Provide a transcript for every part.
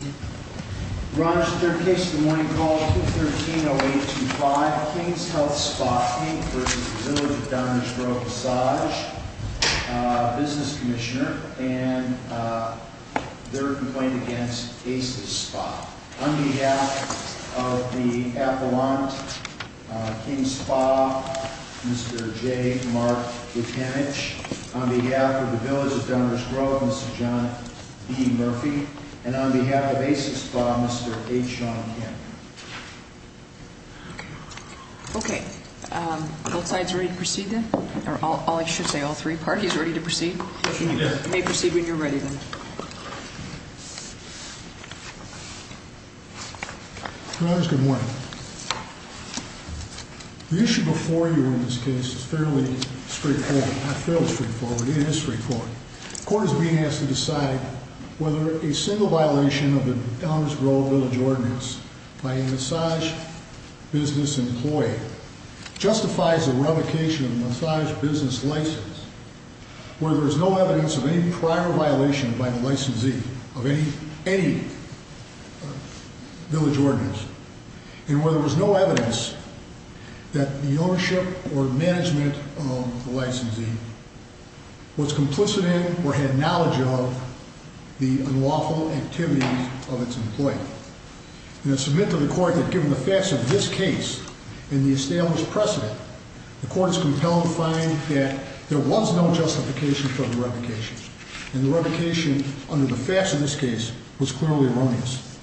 Ron, this is the third case of the morning called 213-0825. King's Health Spa, Inc. v. Village of Downers Grove Massage Business Commissioner and their complaint against ACES Spa. On behalf of the Appalachian King's Spa, Mr. J. Mark Vitinich. On behalf of the Village of Downers Grove, Mr. John E. Murphy. And on behalf of ACES Spa, Mr. H. Sean Henry. Okay. Both sides ready to proceed then? Or I should say all three parties ready to proceed? You may proceed when you're ready then. Good morning. The issue before you in this case is fairly straightforward. Not fairly straightforward, it is straightforward. The court is being asked to decide whether a single violation of the Downers Grove Village Ordinance by a massage business employee justifies the revocation of the massage business license, whether there's no evidence of any prior violation by the licensee of any village ordinance, and whether there's no evidence that the ownership or management of the licensee was complicit in or had knowledge of the unlawful activities of its employee. And it's submitted to the court that given the facts of this case and the established precedent, the court is compelled to find that there was no justification for the revocation, and the revocation under the facts of this case was clearly erroneous.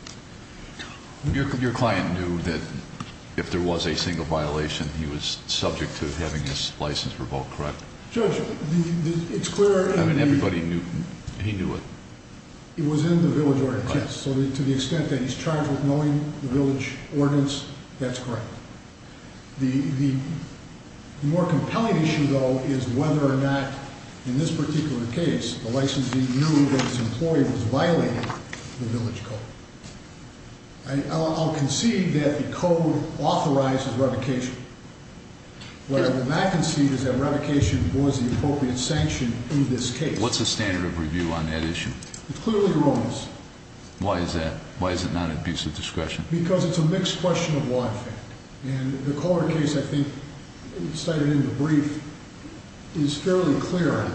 Your client knew that if there was a single violation, he was subject to having his license revoked, correct? Judge, it's clear in the- I mean, everybody knew. He knew it. It was in the village ordinance, yes. So to the extent that he's charged with knowing the village ordinance, that's correct. The more compelling issue, though, is whether or not in this particular case the licensee knew that his employee was violating the village code. I'll concede that the code authorizes revocation. What I would not concede is that revocation was the appropriate sanction in this case. What's the standard of review on that issue? It's clearly erroneous. Why is that? Why is it not at abuse of discretion? Because it's a mixed question of why. And the Kohler case, I think, cited in the brief, is fairly clear,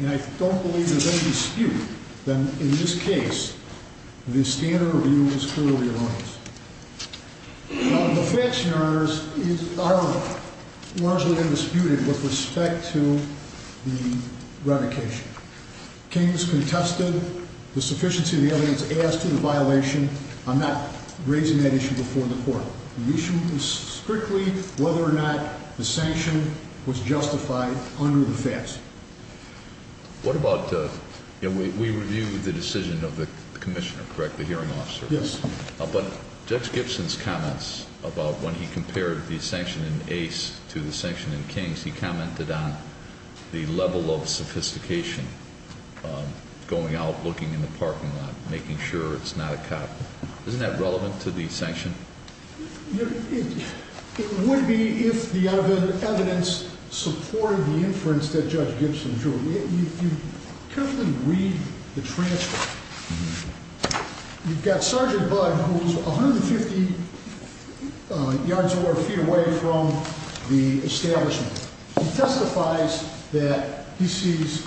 and I don't believe there's any dispute that in this case the standard review was clearly erroneous. The facts, Your Honors, are largely undisputed with respect to the revocation. The case was contested. The sufficiency of the evidence adds to the violation. I'm not raising that issue before the court. The issue is strictly whether or not the sanction was justified under the facts. What about, you know, we reviewed the decision of the commissioner, correct, the hearing officer? Yes. But Judge Gibson's comments about when he compared the sanction in Ace to the sanction in Kings, he commented on the level of sophistication, going out, looking in the parking lot, making sure it's not a cop. Isn't that relevant to the sanction? It would be if the evidence supported the inference that Judge Gibson drew. You carefully read the transcript. You've got Sergeant Budd, who's 150 yards or feet away from the establishment. He testifies that he sees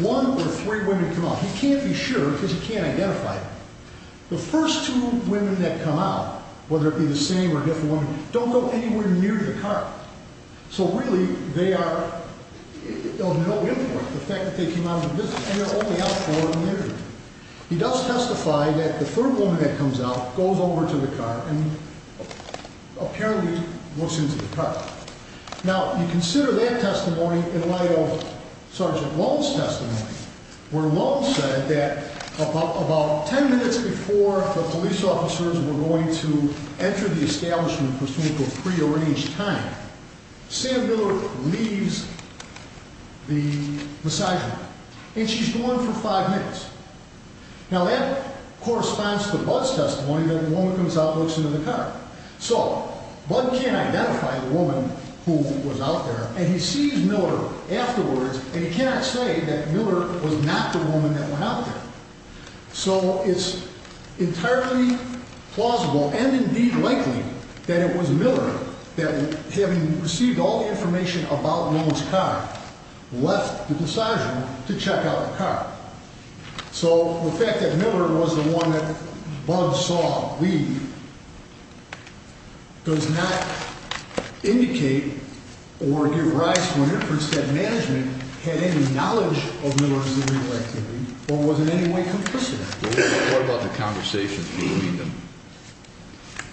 one or three women come out. He can't be sure because he can't identify them. The first two women that come out, whether it be the same or different women, don't go anywhere near the car. So, really, they are of no important. The fact that they came out of the business, they're only out for an interview. He does testify that the third woman that comes out goes over to the car and apparently looks into the car. Now, you consider that testimony in light of Sergeant Lowe's testimony, where Lowe said that about ten minutes before the police officers were going to enter the establishment for some sort of prearranged time, Sam Miller leaves the massage room, and she's gone for five minutes. Now, that corresponds to Budd's testimony that a woman comes out and looks into the car. So, Budd can't identify the woman who was out there, and he sees Miller afterwards, and he cannot say that Miller was not the woman that went out there. So, it's entirely plausible and indeed likely that it was Miller that, having received all the information about Lowe's car, left the massage room to check out the car. So, the fact that Miller was the one that Budd saw leave does not indicate or give rise to an inference that management had any knowledge of Miller's legal activity or was in any way complicit. What about the conversations between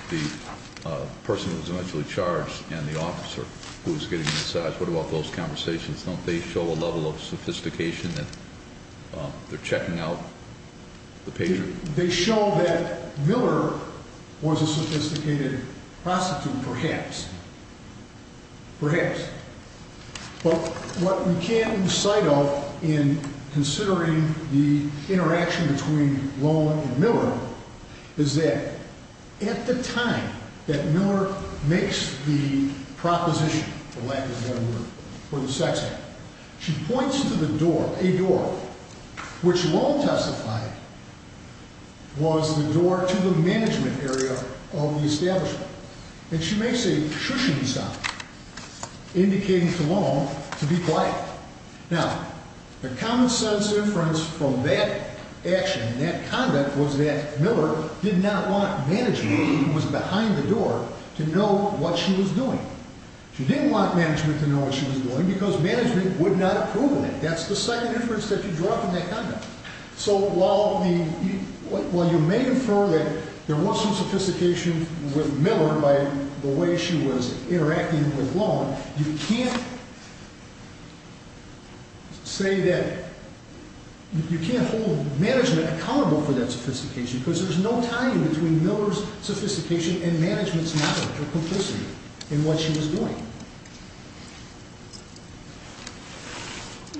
the person who was eventually charged and the officer who was getting the massage? What about those conversations? Don't they show a level of sophistication that they're checking out the patient? They show that Miller was a sophisticated prostitute, perhaps. Perhaps. But what we can't lose sight of in considering the interaction between Lowe and Miller is that, at the time that Miller makes the proposition, for lack of a better word, for the sex act, she points to the door, a door, which Lowe testified was the door to the management area of the establishment. And she makes a shushing sound, indicating to Lowe to be quiet. Now, the common sense inference from that action, that conduct, was that Miller did not want management, who was behind the door, to know what she was doing. She didn't want management to know what she was doing because management would not approve of it. That's the second inference that you draw from that conduct. So while you may infer that there was some sophistication with Miller by the way she was interacting with Lowe, you can't say that, you can't hold management accountable for that sophistication because there's no tying between Miller's sophistication and management's knowledge or complicity in what she was doing.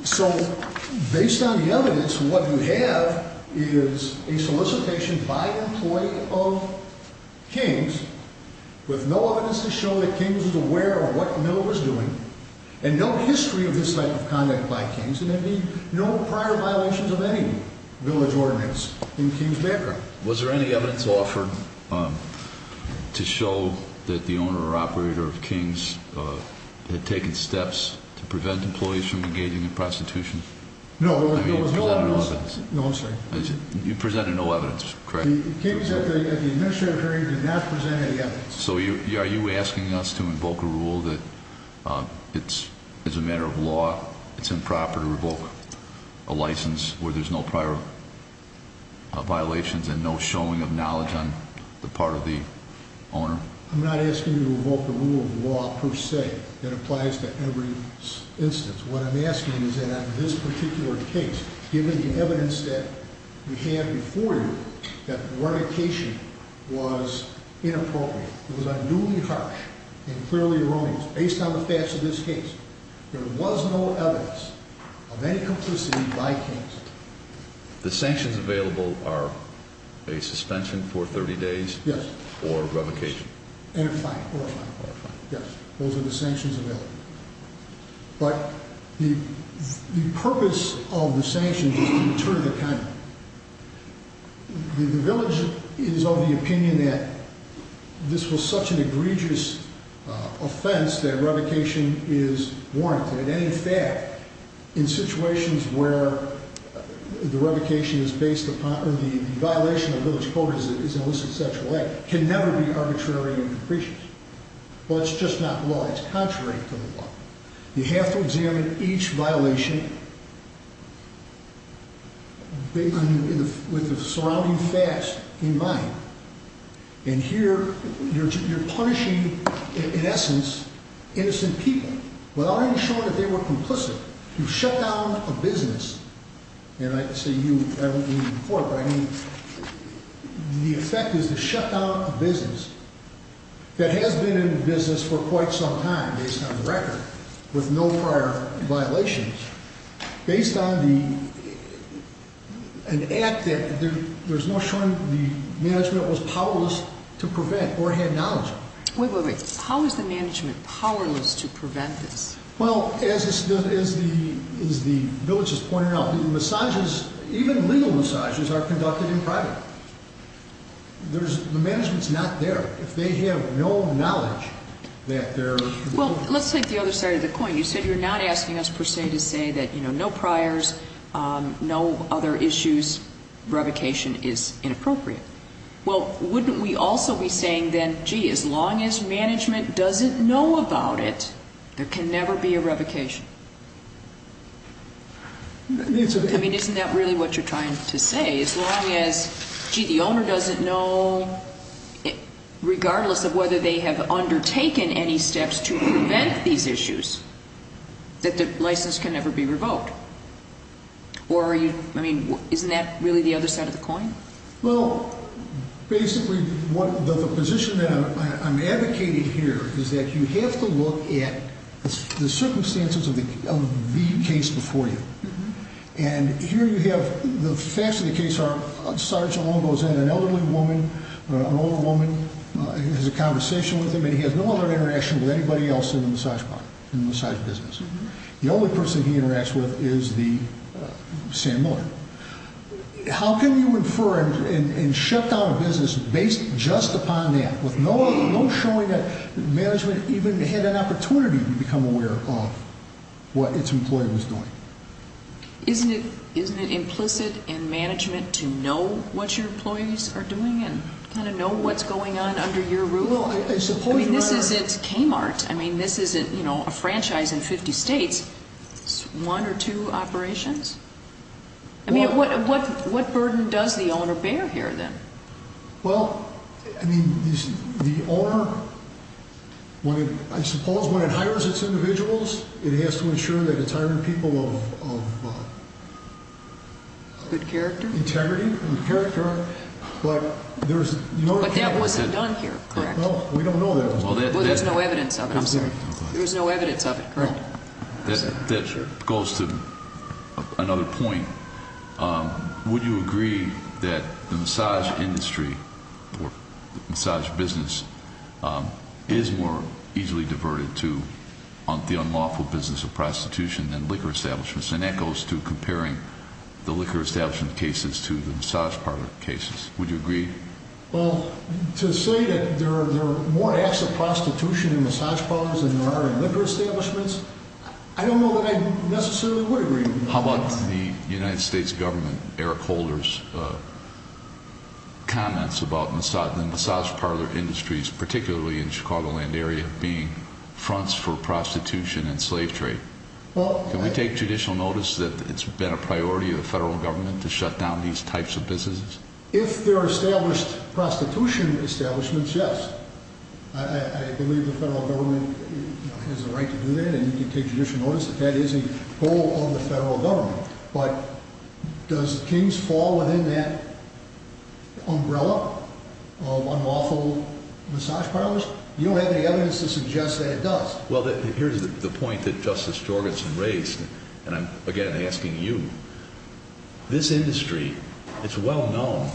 So based on the evidence, what you have is a solicitation by an employee of King's with no evidence to show that King's was aware of what Miller was doing and no history of this type of conduct by King's, and there'd be no prior violations of any village ordinance in King's background. Was there any evidence offered to show that the owner or operator of King's had taken steps to prevent employees from engaging in prostitution? No, there was no evidence. You presented no evidence, correct? King's at the administrative hearing did not present any evidence. So are you asking us to invoke a rule that it's, as a matter of law, it's improper to revoke a license where there's no prior violations and no showing of knowledge on the part of the owner? I'm not asking you to revoke the rule of law per se that applies to every instance. What I'm asking is that on this particular case, given the evidence that we have before you, that the renovation was inappropriate, it was unduly harsh and clearly erroneous. Based on the facts of this case, there was no evidence of any complicity by King's. The sanctions available are a suspension for 30 days or revocation? Yes, and a fine, or a fine. Those are the sanctions available. But the purpose of the sanctions is to deter the conduct. The village is of the opinion that this was such an egregious offense that revocation is warranted. And in fact, in situations where the revocation is based upon, or the violation of the village code is an illicit sexual act, can never be arbitrary and capricious. Well, it's just not law. It's contrary to the law. You have to examine each violation with the surrounding facts in mind. And here, you're punishing, in essence, innocent people without even showing that they were complicit. You shut down a business. And I say you, I don't mean the court, but I mean the effect is to shut down a business that has been in business for quite some time, based on the record, with no prior violations, based on an act that there's no showing the management was powerless to prevent or had knowledge of. Wait, wait, wait. How is the management powerless to prevent this? Well, as the village has pointed out, the massages, even legal massages, are conducted in private. The management's not there. If they have no knowledge that they're... Well, let's take the other side of the coin. You said you're not asking us, per se, to say that no priors, no other issues, revocation is inappropriate. Well, wouldn't we also be saying then, gee, as long as management doesn't know about it, there can never be a revocation? I mean, isn't that really what you're trying to say? As long as, gee, the owner doesn't know, regardless of whether they have undertaken any steps to prevent these issues, that the license can never be revoked? Or are you, I mean, isn't that really the other side of the coin? Well, basically, the position that I'm advocating here is that you have to look at the circumstances of the case before you. And here you have, the facts of the case are, a sergeant goes in, an elderly woman, an older woman, has a conversation with him, and he has no other interaction with anybody else in the massage business. The only person he interacts with is the sandmiller. How can you infer and shut down a business based just upon that, with no showing that management even had an opportunity to become aware of what its employee was doing? Isn't it implicit in management to know what your employees are doing and kind of know what's going on under your rule? I mean, this isn't Kmart. I mean, this isn't, you know, a franchise in 50 states. It's one or two operations. I mean, what burden does the owner bear here, then? Well, I mean, the owner, I suppose when it hires its individuals, it has to ensure that it's hiring people of integrity and character. But that wasn't done here, correct? No, we don't know that. Well, there's no evidence of it, I'm sorry. There's no evidence of it, correct. That goes to another point. Would you agree that the massage industry or massage business is more easily diverted to the unlawful business of prostitution than liquor establishments? And that goes to comparing the liquor establishment cases to the massage parlor cases. Would you agree? Well, to say that there are more acts of prostitution in massage parlors than there are in liquor establishments, I don't know that I necessarily would agree. How about the United States government, Eric Holder's comments about the massage parlor industries, particularly in the Chicagoland area, being fronts for prostitution and slave trade? Can we take judicial notice that it's been a priority of the federal government to shut down these types of businesses? If there are established prostitution establishments, yes. I believe the federal government has a right to do that, and you can take judicial notice that that is a goal of the federal government. But does King's fall within that umbrella of unlawful massage parlors? You don't have any evidence to suggest that it does. Well, here's the point that Justice Jorgenson raised, and I'm again asking you. This industry, it's well known.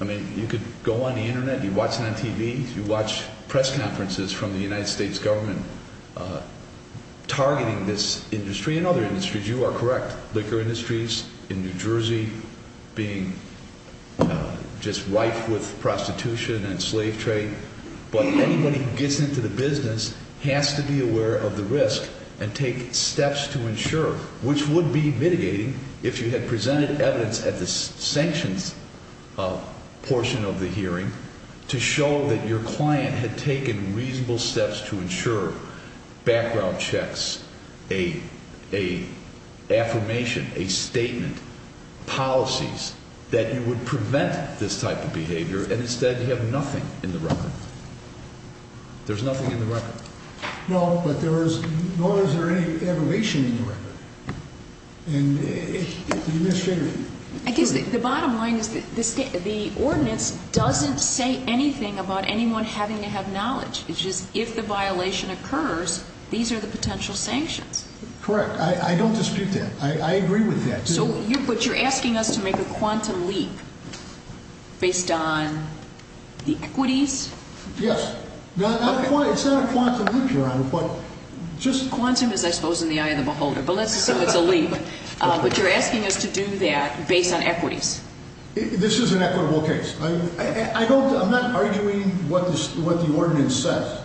I mean, you could go on the Internet, you watch it on TV, you watch press conferences from the United States government targeting this industry and other industries. You are correct. Liquor industries in New Jersey being just rife with prostitution and slave trade. But anybody who gets into the business has to be aware of the risk and take steps to ensure, which would be mitigating if you had presented evidence at the sanctions portion of the hearing to show that your client had taken reasonable steps to ensure background checks, an affirmation, a statement, policies that you would prevent this type of behavior and instead you have nothing in the record. There's nothing in the record. No, but nor is there any evaluation in the record. And the administration. The bottom line is the ordinance doesn't say anything about anyone having to have knowledge. It's just if the violation occurs, these are the potential sanctions. Correct. I don't dispute that. I agree with that. But you're asking us to make a quantum leap based on the equities? Yes. It's not a quantum leap you're on, but just... Quantum is, I suppose, in the eye of the beholder, but let's assume it's a leap. But you're asking us to do that based on equities. This is an equitable case. I'm not arguing what the ordinance says.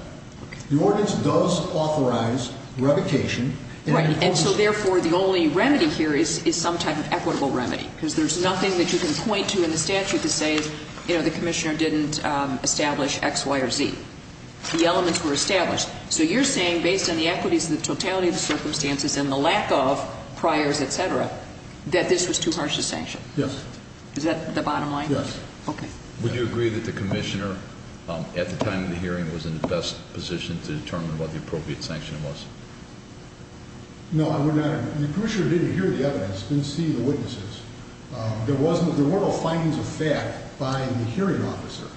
The ordinance does authorize revocation. Right, and so therefore the only remedy here is some type of equitable remedy because there's nothing that you can point to in the statute to say, you know, the commissioner didn't establish X, Y, or Z. The elements were established. So you're saying based on the equities, the totality of the circumstances and the lack of priors, et cetera, that this was too harsh a sanction? Yes. Is that the bottom line? Yes. Okay. Would you agree that the commissioner, at the time of the hearing, was in the best position to determine what the appropriate sanction was? No, I would not agree. The commissioner didn't hear the evidence, didn't see the witnesses. There were no findings of fact by the hearing officer.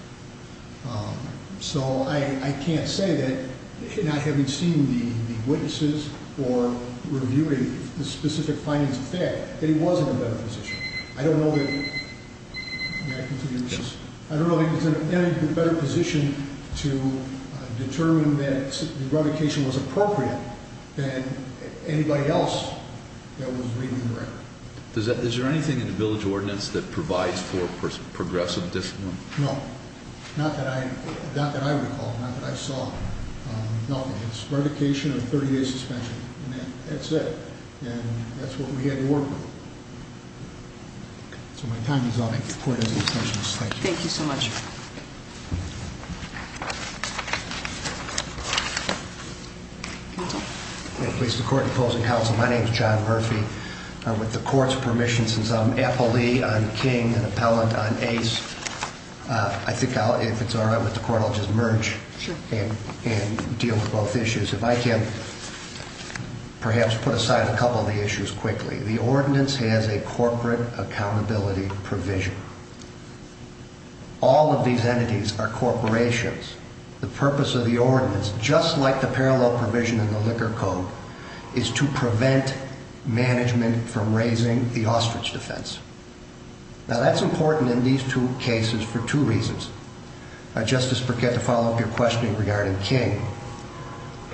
So I can't say that, not having seen the witnesses or reviewing the specific findings of fact, that he was in a better position. I don't know that he was in a better position to determine that revocation was appropriate than anybody else that was reading the record. Is there anything in the village ordinance that provides for progressive discipline? No. Not that I recall. Not that I saw. Nothing. It's revocation of 30-day suspension. And that's it. And that's what we had to work with. So my time is up. I give the court his extensions. Thank you. Thank you so much. I place the court in closing counsel. My name is John Murphy. With the court's permission, since I'm appellee, I'm king, an appellant, I'm ace, I think if it's all right with the court, I'll just merge and deal with both issues. If I can perhaps put aside a couple of the issues quickly. The ordinance has a corporate accountability provision. All of these entities are corporations. The purpose of the ordinance, just like the parallel provision in the liquor code, is to prevent management from raising the ostrich defense. Now that's important in these two cases for two reasons. Justice Burkett, to follow up your question regarding King,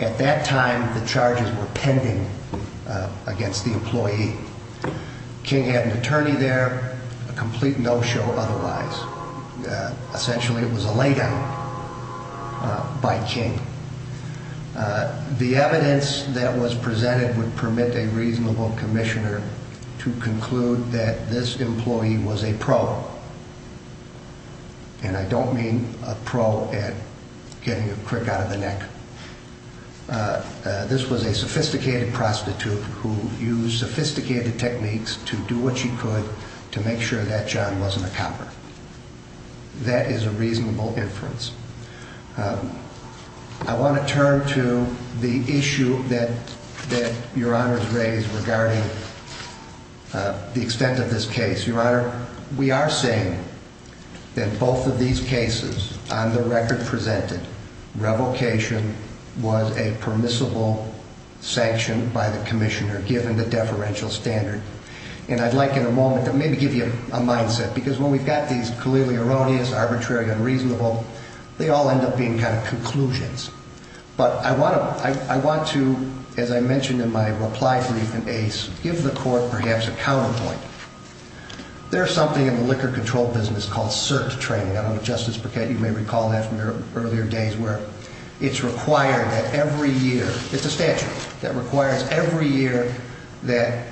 at that time the charges were pending against the employee. King had an attorney there, a complete no-show otherwise. Essentially it was a lay-down by King. The evidence that was presented would permit a reasonable commissioner to conclude that this employee was a pro. And I don't mean a pro at getting a crick out of the neck. This was a sophisticated prostitute who used sophisticated techniques to do what she could to make sure that John wasn't a copper. That is a reasonable inference. I want to turn to the issue that Your Honor has raised regarding the extent of this case. Your Honor, we are saying that both of these cases, on the record presented, revocation was a permissible sanction by the commissioner given the deferential standard. And I'd like in a moment to maybe give you a mindset, because when we've got these clearly erroneous, arbitrary, unreasonable, they all end up being kind of conclusions. But I want to, as I mentioned in my reply brief in Ace, give the Court perhaps a counterpoint. There's something in the liquor control business called cert training. I don't know if Justice Burkett, you may recall that from your earlier days, where it's required that every year, it's a statute, that requires every year that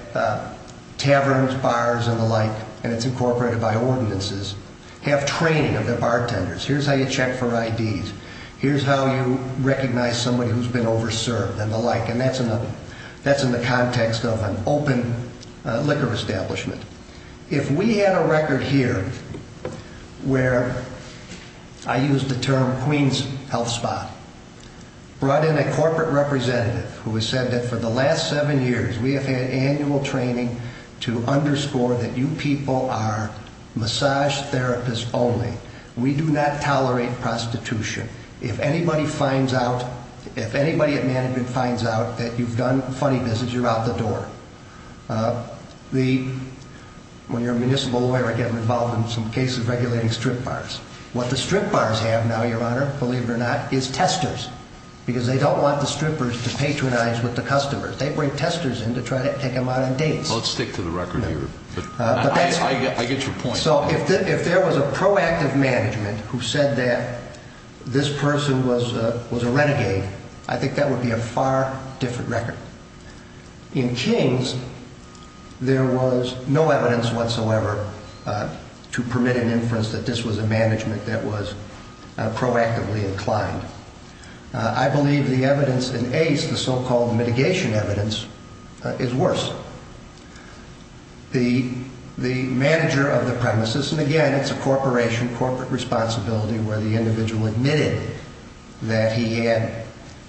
taverns, bars, and the like, and it's incorporated by ordinances, have training of their bartenders. Here's how you check for IDs. Here's how you recognize somebody who's been over-served and the like. And that's in the context of an open liquor establishment. If we had a record here where I used the term Queen's Health Spa, brought in a corporate representative who has said that for the last seven years, we have had annual training to underscore that you people are massage therapists only. We do not tolerate prostitution. If anybody finds out, if anybody at management finds out that you've done funny business, you're out the door. When you're a municipal lawyer, I get involved in some cases regulating strip bars. What the strip bars have now, Your Honor, believe it or not, is testers, because they don't want the strippers to patronize with the customers. They bring testers in to try to take them out on dates. Let's stick to the record here. I get your point. So if there was a proactive management who said that this person was a renegade, I think that would be a far different record. In King's, there was no evidence whatsoever to permit an inference that this was a management that was proactively inclined. I believe the evidence in Ace, the so-called mitigation evidence, is worse. The manager of the premises, and again, it's a corporation, corporate responsibility, where the individual admitted that he had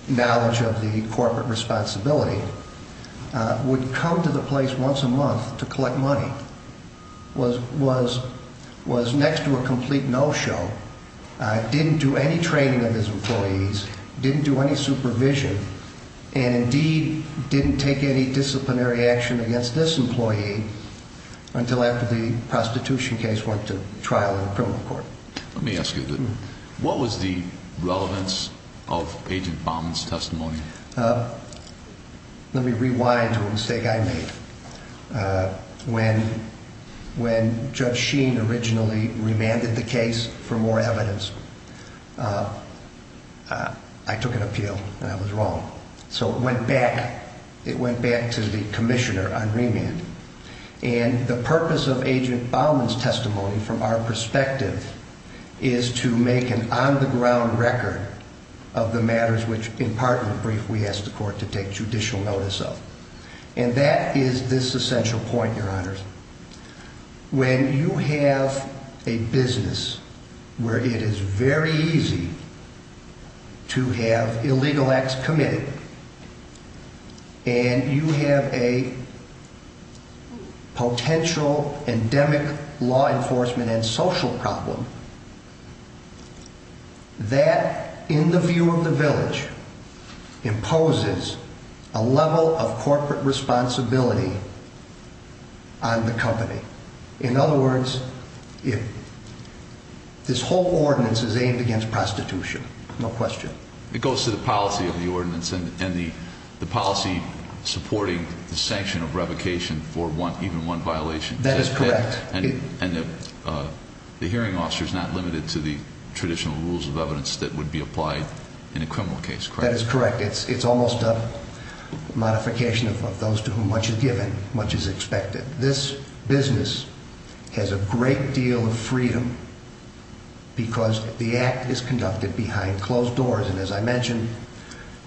knowledge of the corporate responsibility, would come to the place once a month to collect money, was next to a complete no-show, didn't do any training of his employees, didn't do any supervision, and indeed didn't take any disciplinary action against this employee until after the prostitution case went to trial in a criminal court. Let me ask you, what was the relevance of Agent Baumann's testimony? Let me rewind to a mistake I made. When Judge Sheen originally remanded the case for more evidence, I took an appeal, and I was wrong. So it went back to the commissioner on remand. And the purpose of Agent Baumann's testimony, from our perspective, is to make an on-the-ground record of the matters which, in part and in brief, we asked the court to take judicial notice of. And that is this essential point, Your Honors. When you have a business where it is very easy to have illegal acts committed, and you have a potential endemic law enforcement and social problem, that, in the view of the village, imposes a level of corporate responsibility on the company. In other words, this whole ordinance is aimed against prostitution, no question. It goes to the policy of the ordinance and the policy supporting the sanction of revocation for even one violation. That is correct. And the hearing officer is not limited to the traditional rules of evidence that would be applied in a criminal case, correct? That is correct. It's almost a modification of those to whom much is given, much is expected. This business has a great deal of freedom because the act is conducted behind closed doors. And as I mentioned,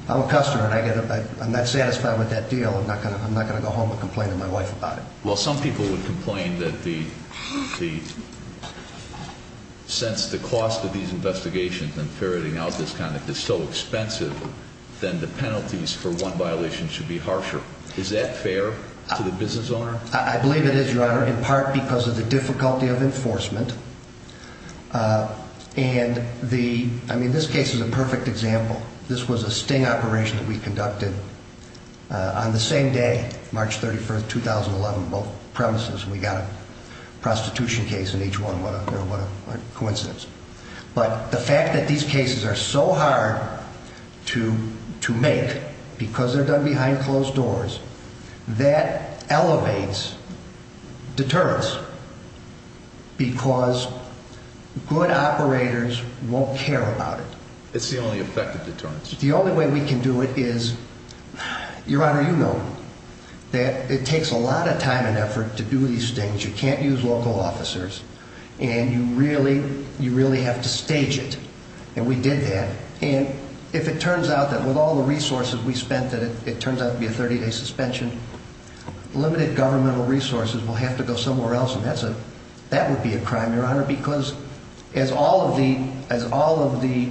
I'm a customer, and I'm not satisfied with that deal. I'm not going to go home and complain to my wife about it. Well, some people would complain that since the cost of these investigations and ferreting out this conduct is so expensive, then the penalties for one violation should be harsher. Is that fair to the business owner? I believe it is, Your Honor, in part because of the difficulty of enforcement. I mean, this case is a perfect example. This was a sting operation that we conducted on the same day, March 31, 2011, both premises. We got a prostitution case in each one. What a coincidence. But the fact that these cases are so hard to make because they're done behind closed doors, that elevates deterrence because good operators won't care about it. It's the only effective deterrence. The only way we can do it is, Your Honor, you know that it takes a lot of time and effort to do these things. You can't use local officers, and you really have to stage it, and we did that. And if it turns out that with all the resources we spent that it turns out to be a 30-day suspension, limited governmental resources will have to go somewhere else, and that would be a crime, Your Honor, because as all of the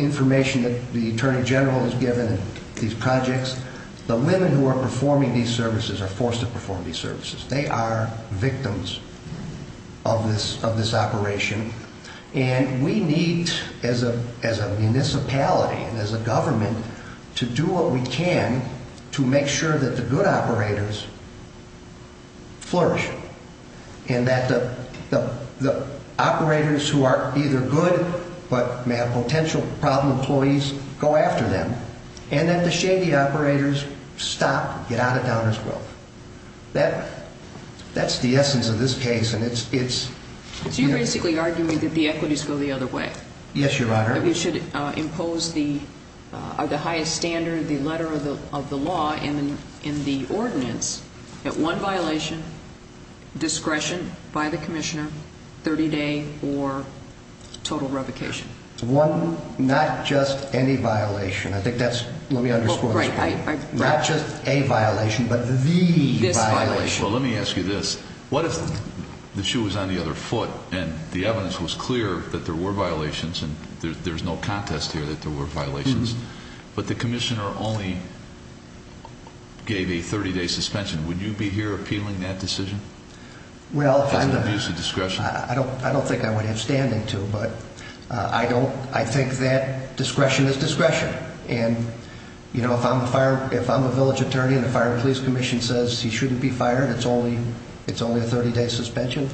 information that the Attorney General has given in these projects, the women who are performing these services are forced to perform these services. They are victims of this operation. And we need, as a municipality and as a government, to do what we can to make sure that the good operators flourish and that the operators who are either good but may have potential problem employees go after them and that the shady operators stop, get out of downers' wealth. That's the essence of this case, and it's... So you're basically arguing that the equities go the other way. Yes, Your Honor. That we should impose the highest standard, the letter of the law, and the ordinance, that one violation, discretion by the commissioner, 30-day or total revocation. Not just any violation. I think that's... Let me underscore this point. Not just a violation but the violation. Well, let me ask you this. What if the shoe was on the other foot and the evidence was clear that there were violations and there's no contest here that there were violations, but the commissioner only gave a 30-day suspension? Would you be here appealing that decision as an abuse of discretion? I don't think I would have standing to, but I think that discretion is discretion. And if I'm a village attorney and the Fire and Police Commission says he shouldn't be fired, it's only a 30-day suspension?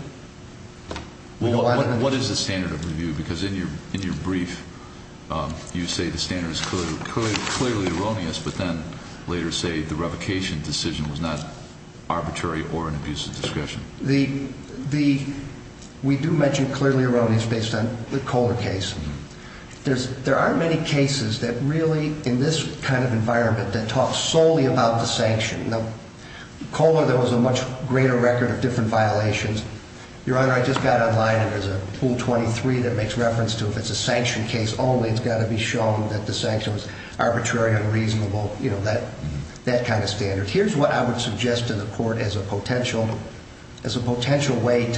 What is the standard of review? Because in your brief, you say the standard is clearly erroneous, but then later say the revocation decision was not arbitrary or an abuse of discretion. We do mention clearly erroneous based on the Kohler case. There are many cases that really, in this kind of environment, that talk solely about the sanction. In Kohler, there was a much greater record of different violations. Your Honor, I just got online and there's a Rule 23 that makes reference to, if it's a sanction case only, it's got to be shown that the sanction was arbitrary, unreasonable, that kind of standard. Here's what I would suggest to the court as a potential way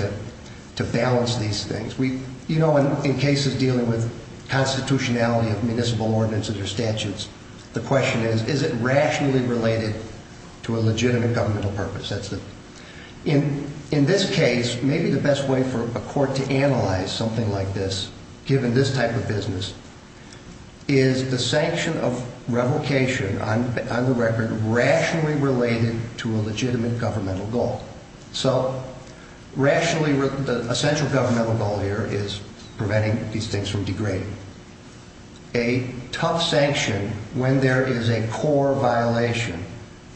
to balance these things. You know, in cases dealing with constitutionality of municipal ordinance and their statutes, the question is, is it rationally related to a legitimate governmental purpose? In this case, maybe the best way for a court to analyze something like this, given this type of business, is the sanction of revocation on the record rationally related to a legitimate governmental goal. So rationally, the essential governmental goal here is preventing these things from degrading. A tough sanction, when there is a core violation,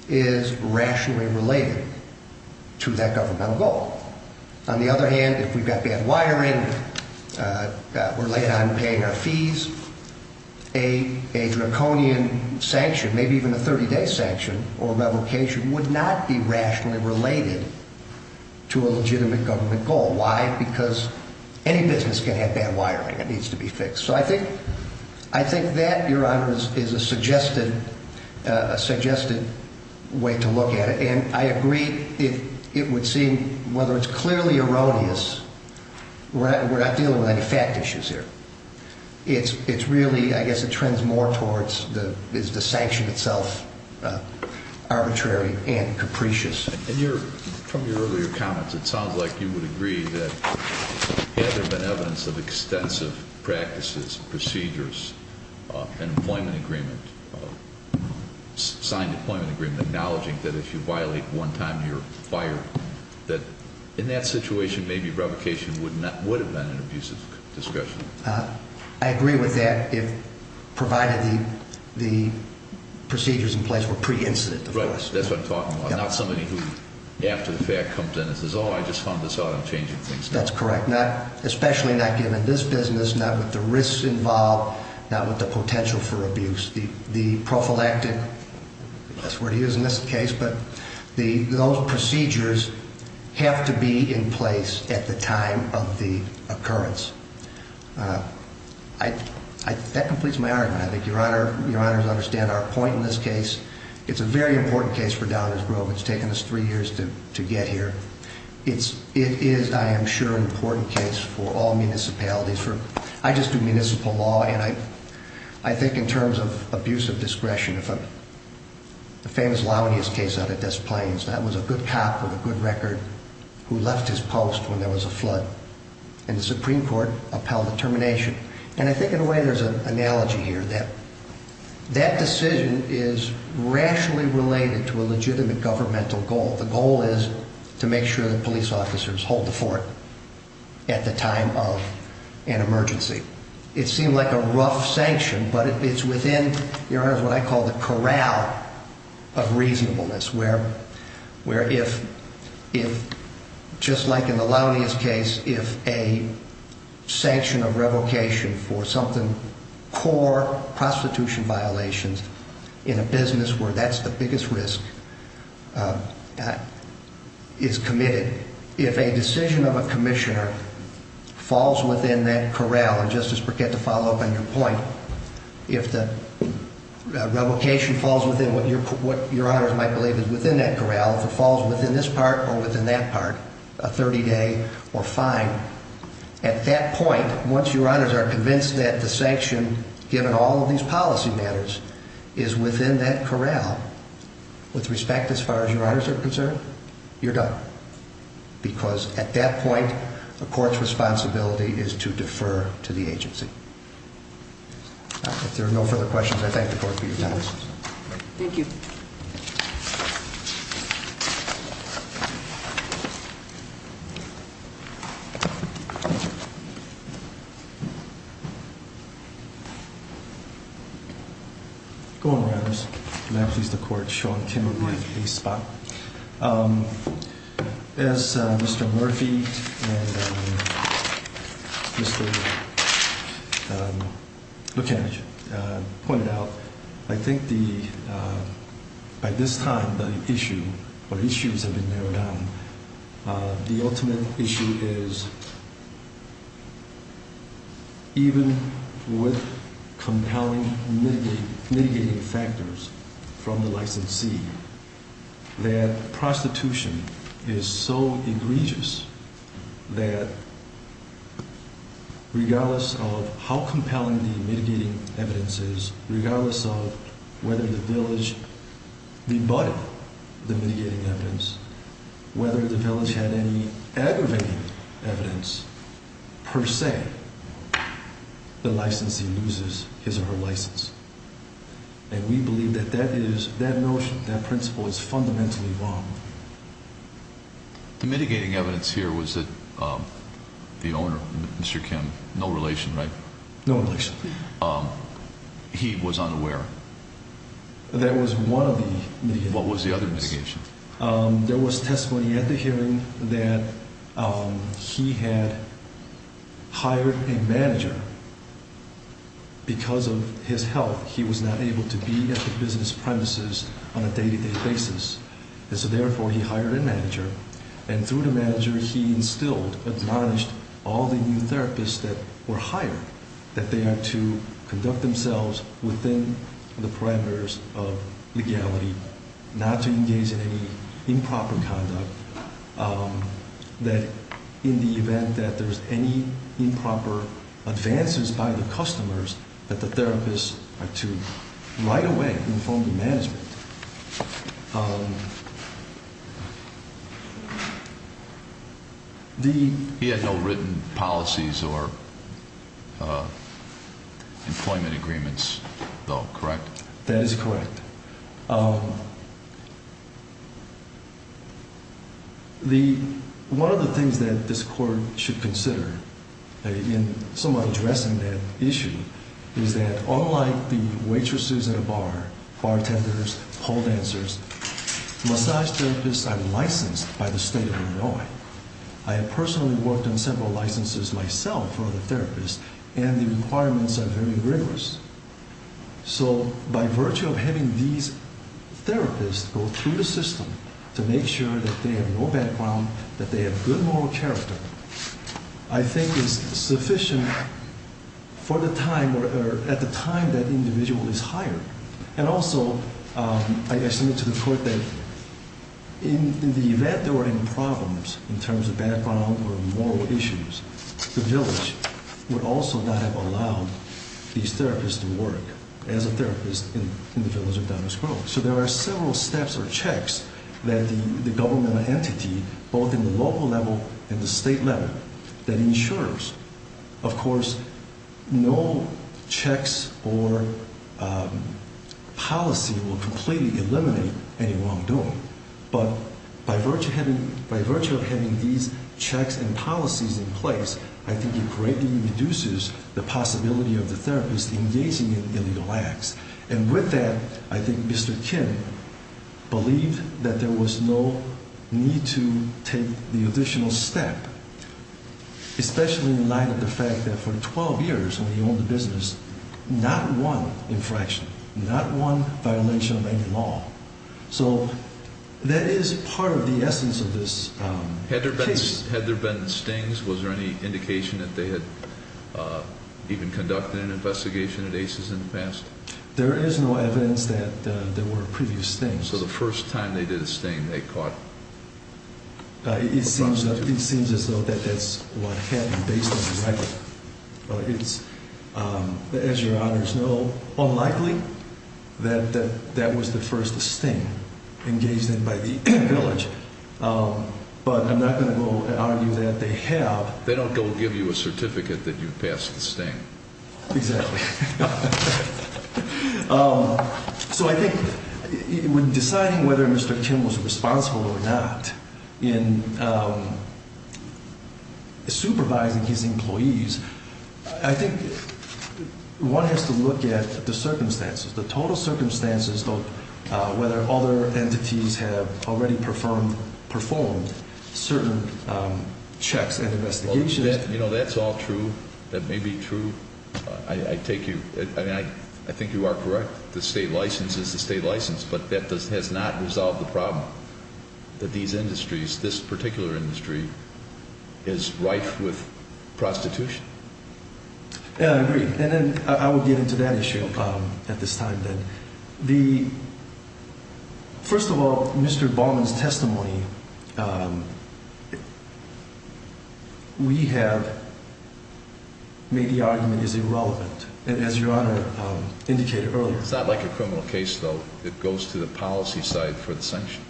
is rationally related to that governmental goal. On the other hand, if we've got bad wiring, we're late on paying our fees, a draconian sanction, maybe even a 30-day sanction or revocation, would not be rationally related to a legitimate governmental goal. Why? Because any business can have bad wiring that needs to be fixed. So I think that, Your Honor, is a suggested way to look at it. And I agree, it would seem, whether it's clearly erroneous, we're not dealing with any fact issues here. It's really, I guess it trends more towards, is the sanction itself arbitrary and capricious? From your earlier comments, it sounds like you would agree that, had there been evidence of extensive practices, procedures, and employment agreement, signed employment agreement, acknowledging that if you violate one time, you're fired, that in that situation, maybe revocation would have been an abusive discussion. I agree with that, provided the procedures in place were pre-incident. Right, that's what I'm talking about. Not somebody who, after the fact comes in and says, oh, I just found this out, I'm changing things now. That's correct. Especially not given this business, not with the risks involved, not with the potential for abuse. The prophylactic, that's the word he used in this case, but those procedures have to be in place at the time of the occurrence. That completes my argument. I think Your Honor would understand our point in this case. It's a very important case for Downers Grove. It's taken us three years to get here. It is, I am sure, an important case for all municipalities. I just do municipal law, and I think in terms of abuse of discretion, the famous Launius case out of Des Plaines, that was a good cop with a good record who left his post when there was a flood, and the Supreme Court upheld the termination. And I think in a way there's an analogy here that that decision is rationally related to a legitimate governmental goal. The goal is to make sure that police officers hold the fort at the time of an emergency. It seemed like a rough sanction, but it's within, Your Honor, what I call the corral of reasonableness, where if, just like in the Launius case, if a sanction of revocation for something, core prostitution violations in a business where that's the biggest risk is committed, if a decision of a commissioner falls within that corral, and Justice Burkett, to follow up on your point, if the revocation falls within what Your Honor might believe is within that corral, if it falls within this part or within that part, a 30-day or fine, at that point, once Your Honors are convinced that the sanction, given all of these policy matters, is within that corral, with respect as far as Your Honors are concerned, you're done. Because at that point, the court's responsibility is to defer to the agency. If there are no further questions, I thank the Court for your time. Thank you. Thank you. Good morning, Your Honors. May I please the Court show on camera my case file? As Mr. Murphy and Mr. Buchanan pointed out, I think by this time the issue or issues have been narrowed down. The ultimate issue is even with compelling mitigating factors from the licensee, that prostitution is so egregious that regardless of how compelling the mitigating evidence is, regardless of whether the village rebutted the mitigating evidence, whether the village had any aggravating evidence per se, the licensee loses his or her license. And we believe that that is, that notion, that principle is fundamentally wrong. The mitigating evidence here was that the owner, Mr. Kim, no relation, right? No relation. He was unaware. That was one of the mitigating evidence. What was the other mitigating evidence? There was testimony at the hearing that he had hired a manager. Because of his health, he was not able to be at the business premises on a day-to-day basis. And so therefore, he hired a manager. And through the manager, he instilled, admonished all the new therapists that were hired, that they are to conduct themselves within the parameters of legality, not to engage in any improper conduct, that in the event that there's any improper advances by the customers, that the therapists are to right away inform the management. He had no written policies or employment agreements, though, correct? That is correct. One of the things that this Court should consider in somewhat addressing that issue is that unlike the waitresses at a bar, bartenders, pole dancers, massage therapists are licensed by the State of Illinois. I have personally worked on several licenses myself for other therapists, and the requirements are very rigorous. So by virtue of having these therapists go through the system to make sure that they have no background, that they have good moral character, I think is sufficient for the time or at the time that individual is hired. And also, I submit to the Court that in the event there were any problems in terms of background or moral issues, the village would also not have allowed these therapists to work as a therapist in the village of Downers Grove. So there are several steps or checks that the government entity, both in the local level and the state level, that ensures, of course, no checks or policy will completely eliminate any wrongdoing. But by virtue of having these checks and policies in place, I think it greatly reduces the possibility of the therapist engaging in illegal acts. And with that, I think Mr. Kim believed that there was no need to take the additional step, especially in light of the fact that for 12 years when he owned the business, not one infraction, not one violation of any law. So that is part of the essence of this case. Had there been stings? Was there any indication that they had even conducted an investigation at ACES in the past? There is no evidence that there were previous stings. So the first time they did a sting, they caught a prostitute? It seems as though that that's what happened based on the record. It's, as your honors know, unlikely that that was the first sting engaged in by the village. But I'm not going to argue that they have. They don't go give you a certificate that you've passed the sting. Exactly. So I think when deciding whether Mr. Kim was responsible or not in supervising his employees, I think one has to look at the circumstances, the total circumstances, whether other entities have already performed certain checks and investigations. You know, that's all true. That may be true. I take you, I mean, I think you are correct. The state license is the state license. But that has not resolved the problem that these industries, this particular industry, is rife with prostitution. Yeah, I agree. And then I will get into that issue at this time then. First of all, Mr. Baumann's testimony, we have made the argument is irrelevant. And as your honor indicated earlier. It's not like a criminal case, though. It goes to the policy side for the sanction.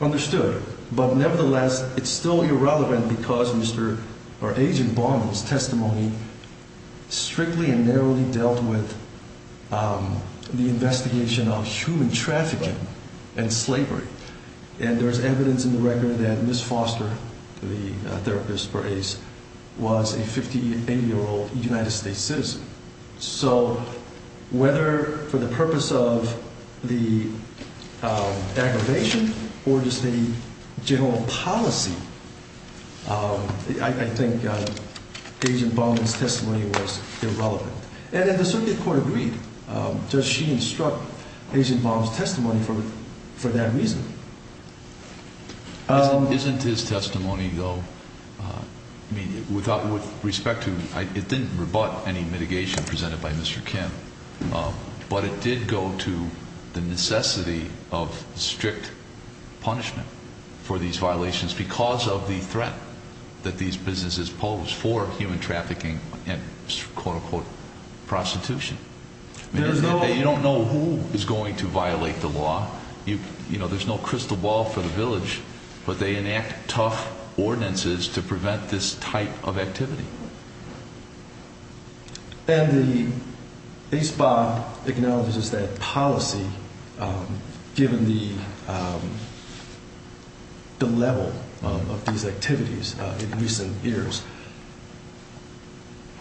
Understood. But nevertheless, it's still irrelevant because Mr. or Agent Baumann's testimony strictly and narrowly dealt with the investigation of human trafficking and slavery. And there's evidence in the record that Ms. Foster, the therapist for Ace, was a 58-year-old United States citizen. So whether for the purpose of the aggravation or just the general policy, I think Agent Baumann's testimony was irrelevant. And the circuit court agreed. Does she instruct Agent Baumann's testimony for that reason? Isn't his testimony, though, with respect to, it didn't rebut any mitigation presented by Mr. Kim. But it did go to the necessity of strict punishment for these violations because of the threat that these businesses pose for human trafficking and quote unquote prostitution. You don't know who is going to violate the law. You know, there's no crystal ball for the village. But they enact tough ordinances to prevent this type of activity. And the ACEBA acknowledges that policy, given the level of these activities in recent years.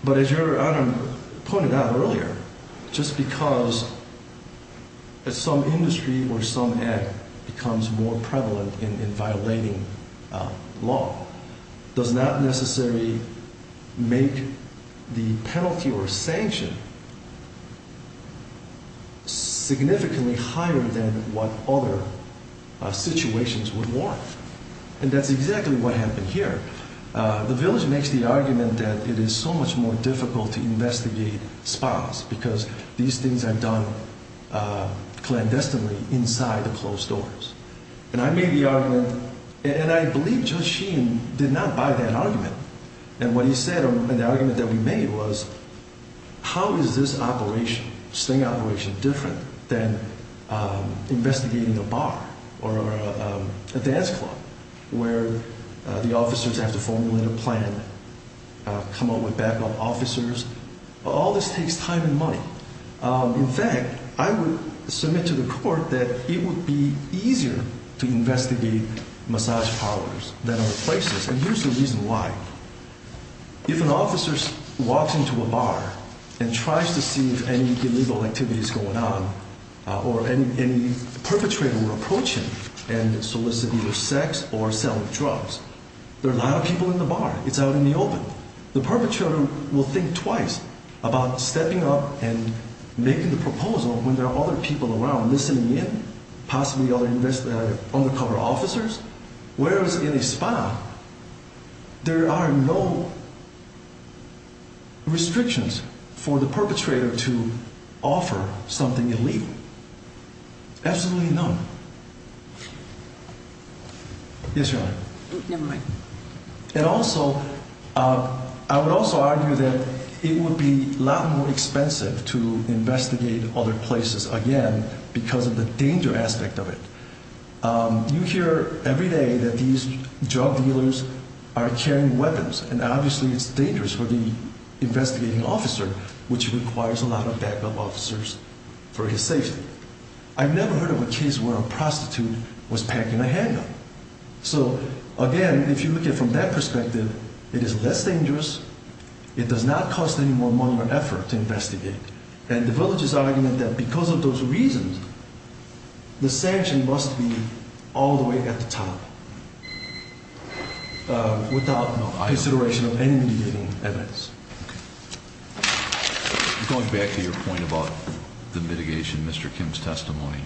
But as your Honor pointed out earlier, just because some industry or some act becomes more prevalent in violating law does not necessarily make the penalty or sanction significantly higher than what other situations would warrant. And that's exactly what happened here. The village makes the argument that it is so much more difficult to investigate spas because these things are done clandestinely inside the closed doors. And I made the argument, and I believe Judge Sheen did not buy that argument. And what he said in the argument that we made was, how is this operation, sting operation, different than investigating a bar or a dance club where the officers have to formulate a plan, come up with backup officers? All this takes time and money. In fact, I would submit to the court that it would be easier to investigate massage parlors than other places. And here's the reason why. If an officer walks into a bar and tries to see if any illegal activity is going on or any perpetrator were approaching and soliciting either sex or selling drugs, there are a lot of people in the bar. It's out in the open. The perpetrator will think twice about stepping up and making the proposal when there are other people around listening in, possibly other undercover officers. Whereas in a spa, there are no restrictions for the perpetrator to offer something illegal. Absolutely none. Yes, Your Honor. Never mind. And also, I would also argue that it would be a lot more expensive to investigate other places, again, because of the danger aspect of it. You hear every day that these drug dealers are carrying weapons, and obviously it's dangerous for the investigating officer, which requires a lot of backup officers for his safety. I've never heard of a case where a prostitute was packing a handgun. So, again, if you look at it from that perspective, it is less dangerous. It does not cost any more money or effort to investigate. And the village is arguing that because of those reasons, the sanction must be all the way at the top without consideration of any mitigating evidence. Going back to your point about the mitigation, Mr. Kim's testimony,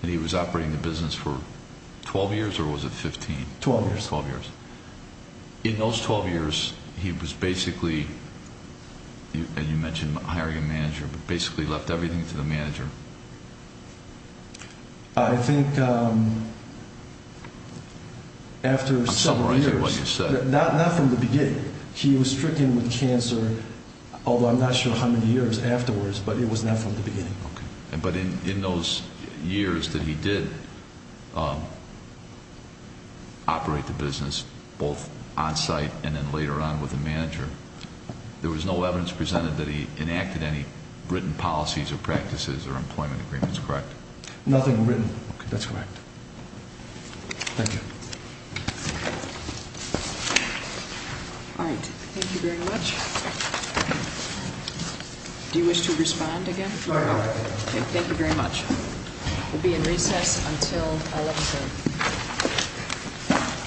that he was operating the business for 12 years or was it 15? 12 years. 12 years. In those 12 years, he was basically, and you mentioned hiring a manager, but basically left everything to the manager. I think after several years. I'm summarizing what you said. Not from the beginning. He was stricken with cancer, although I'm not sure how many years afterwards, but it was not from the beginning. Okay. But in those years that he did operate the business, both on site and then later on with the manager, there was no evidence presented that he enacted any written policies or practices or employment agreements, correct? Nothing written. Okay. That's correct. Thank you. All right. Thank you very much. Do you wish to respond again? Thank you very much. We'll be in recess until 11 p.m.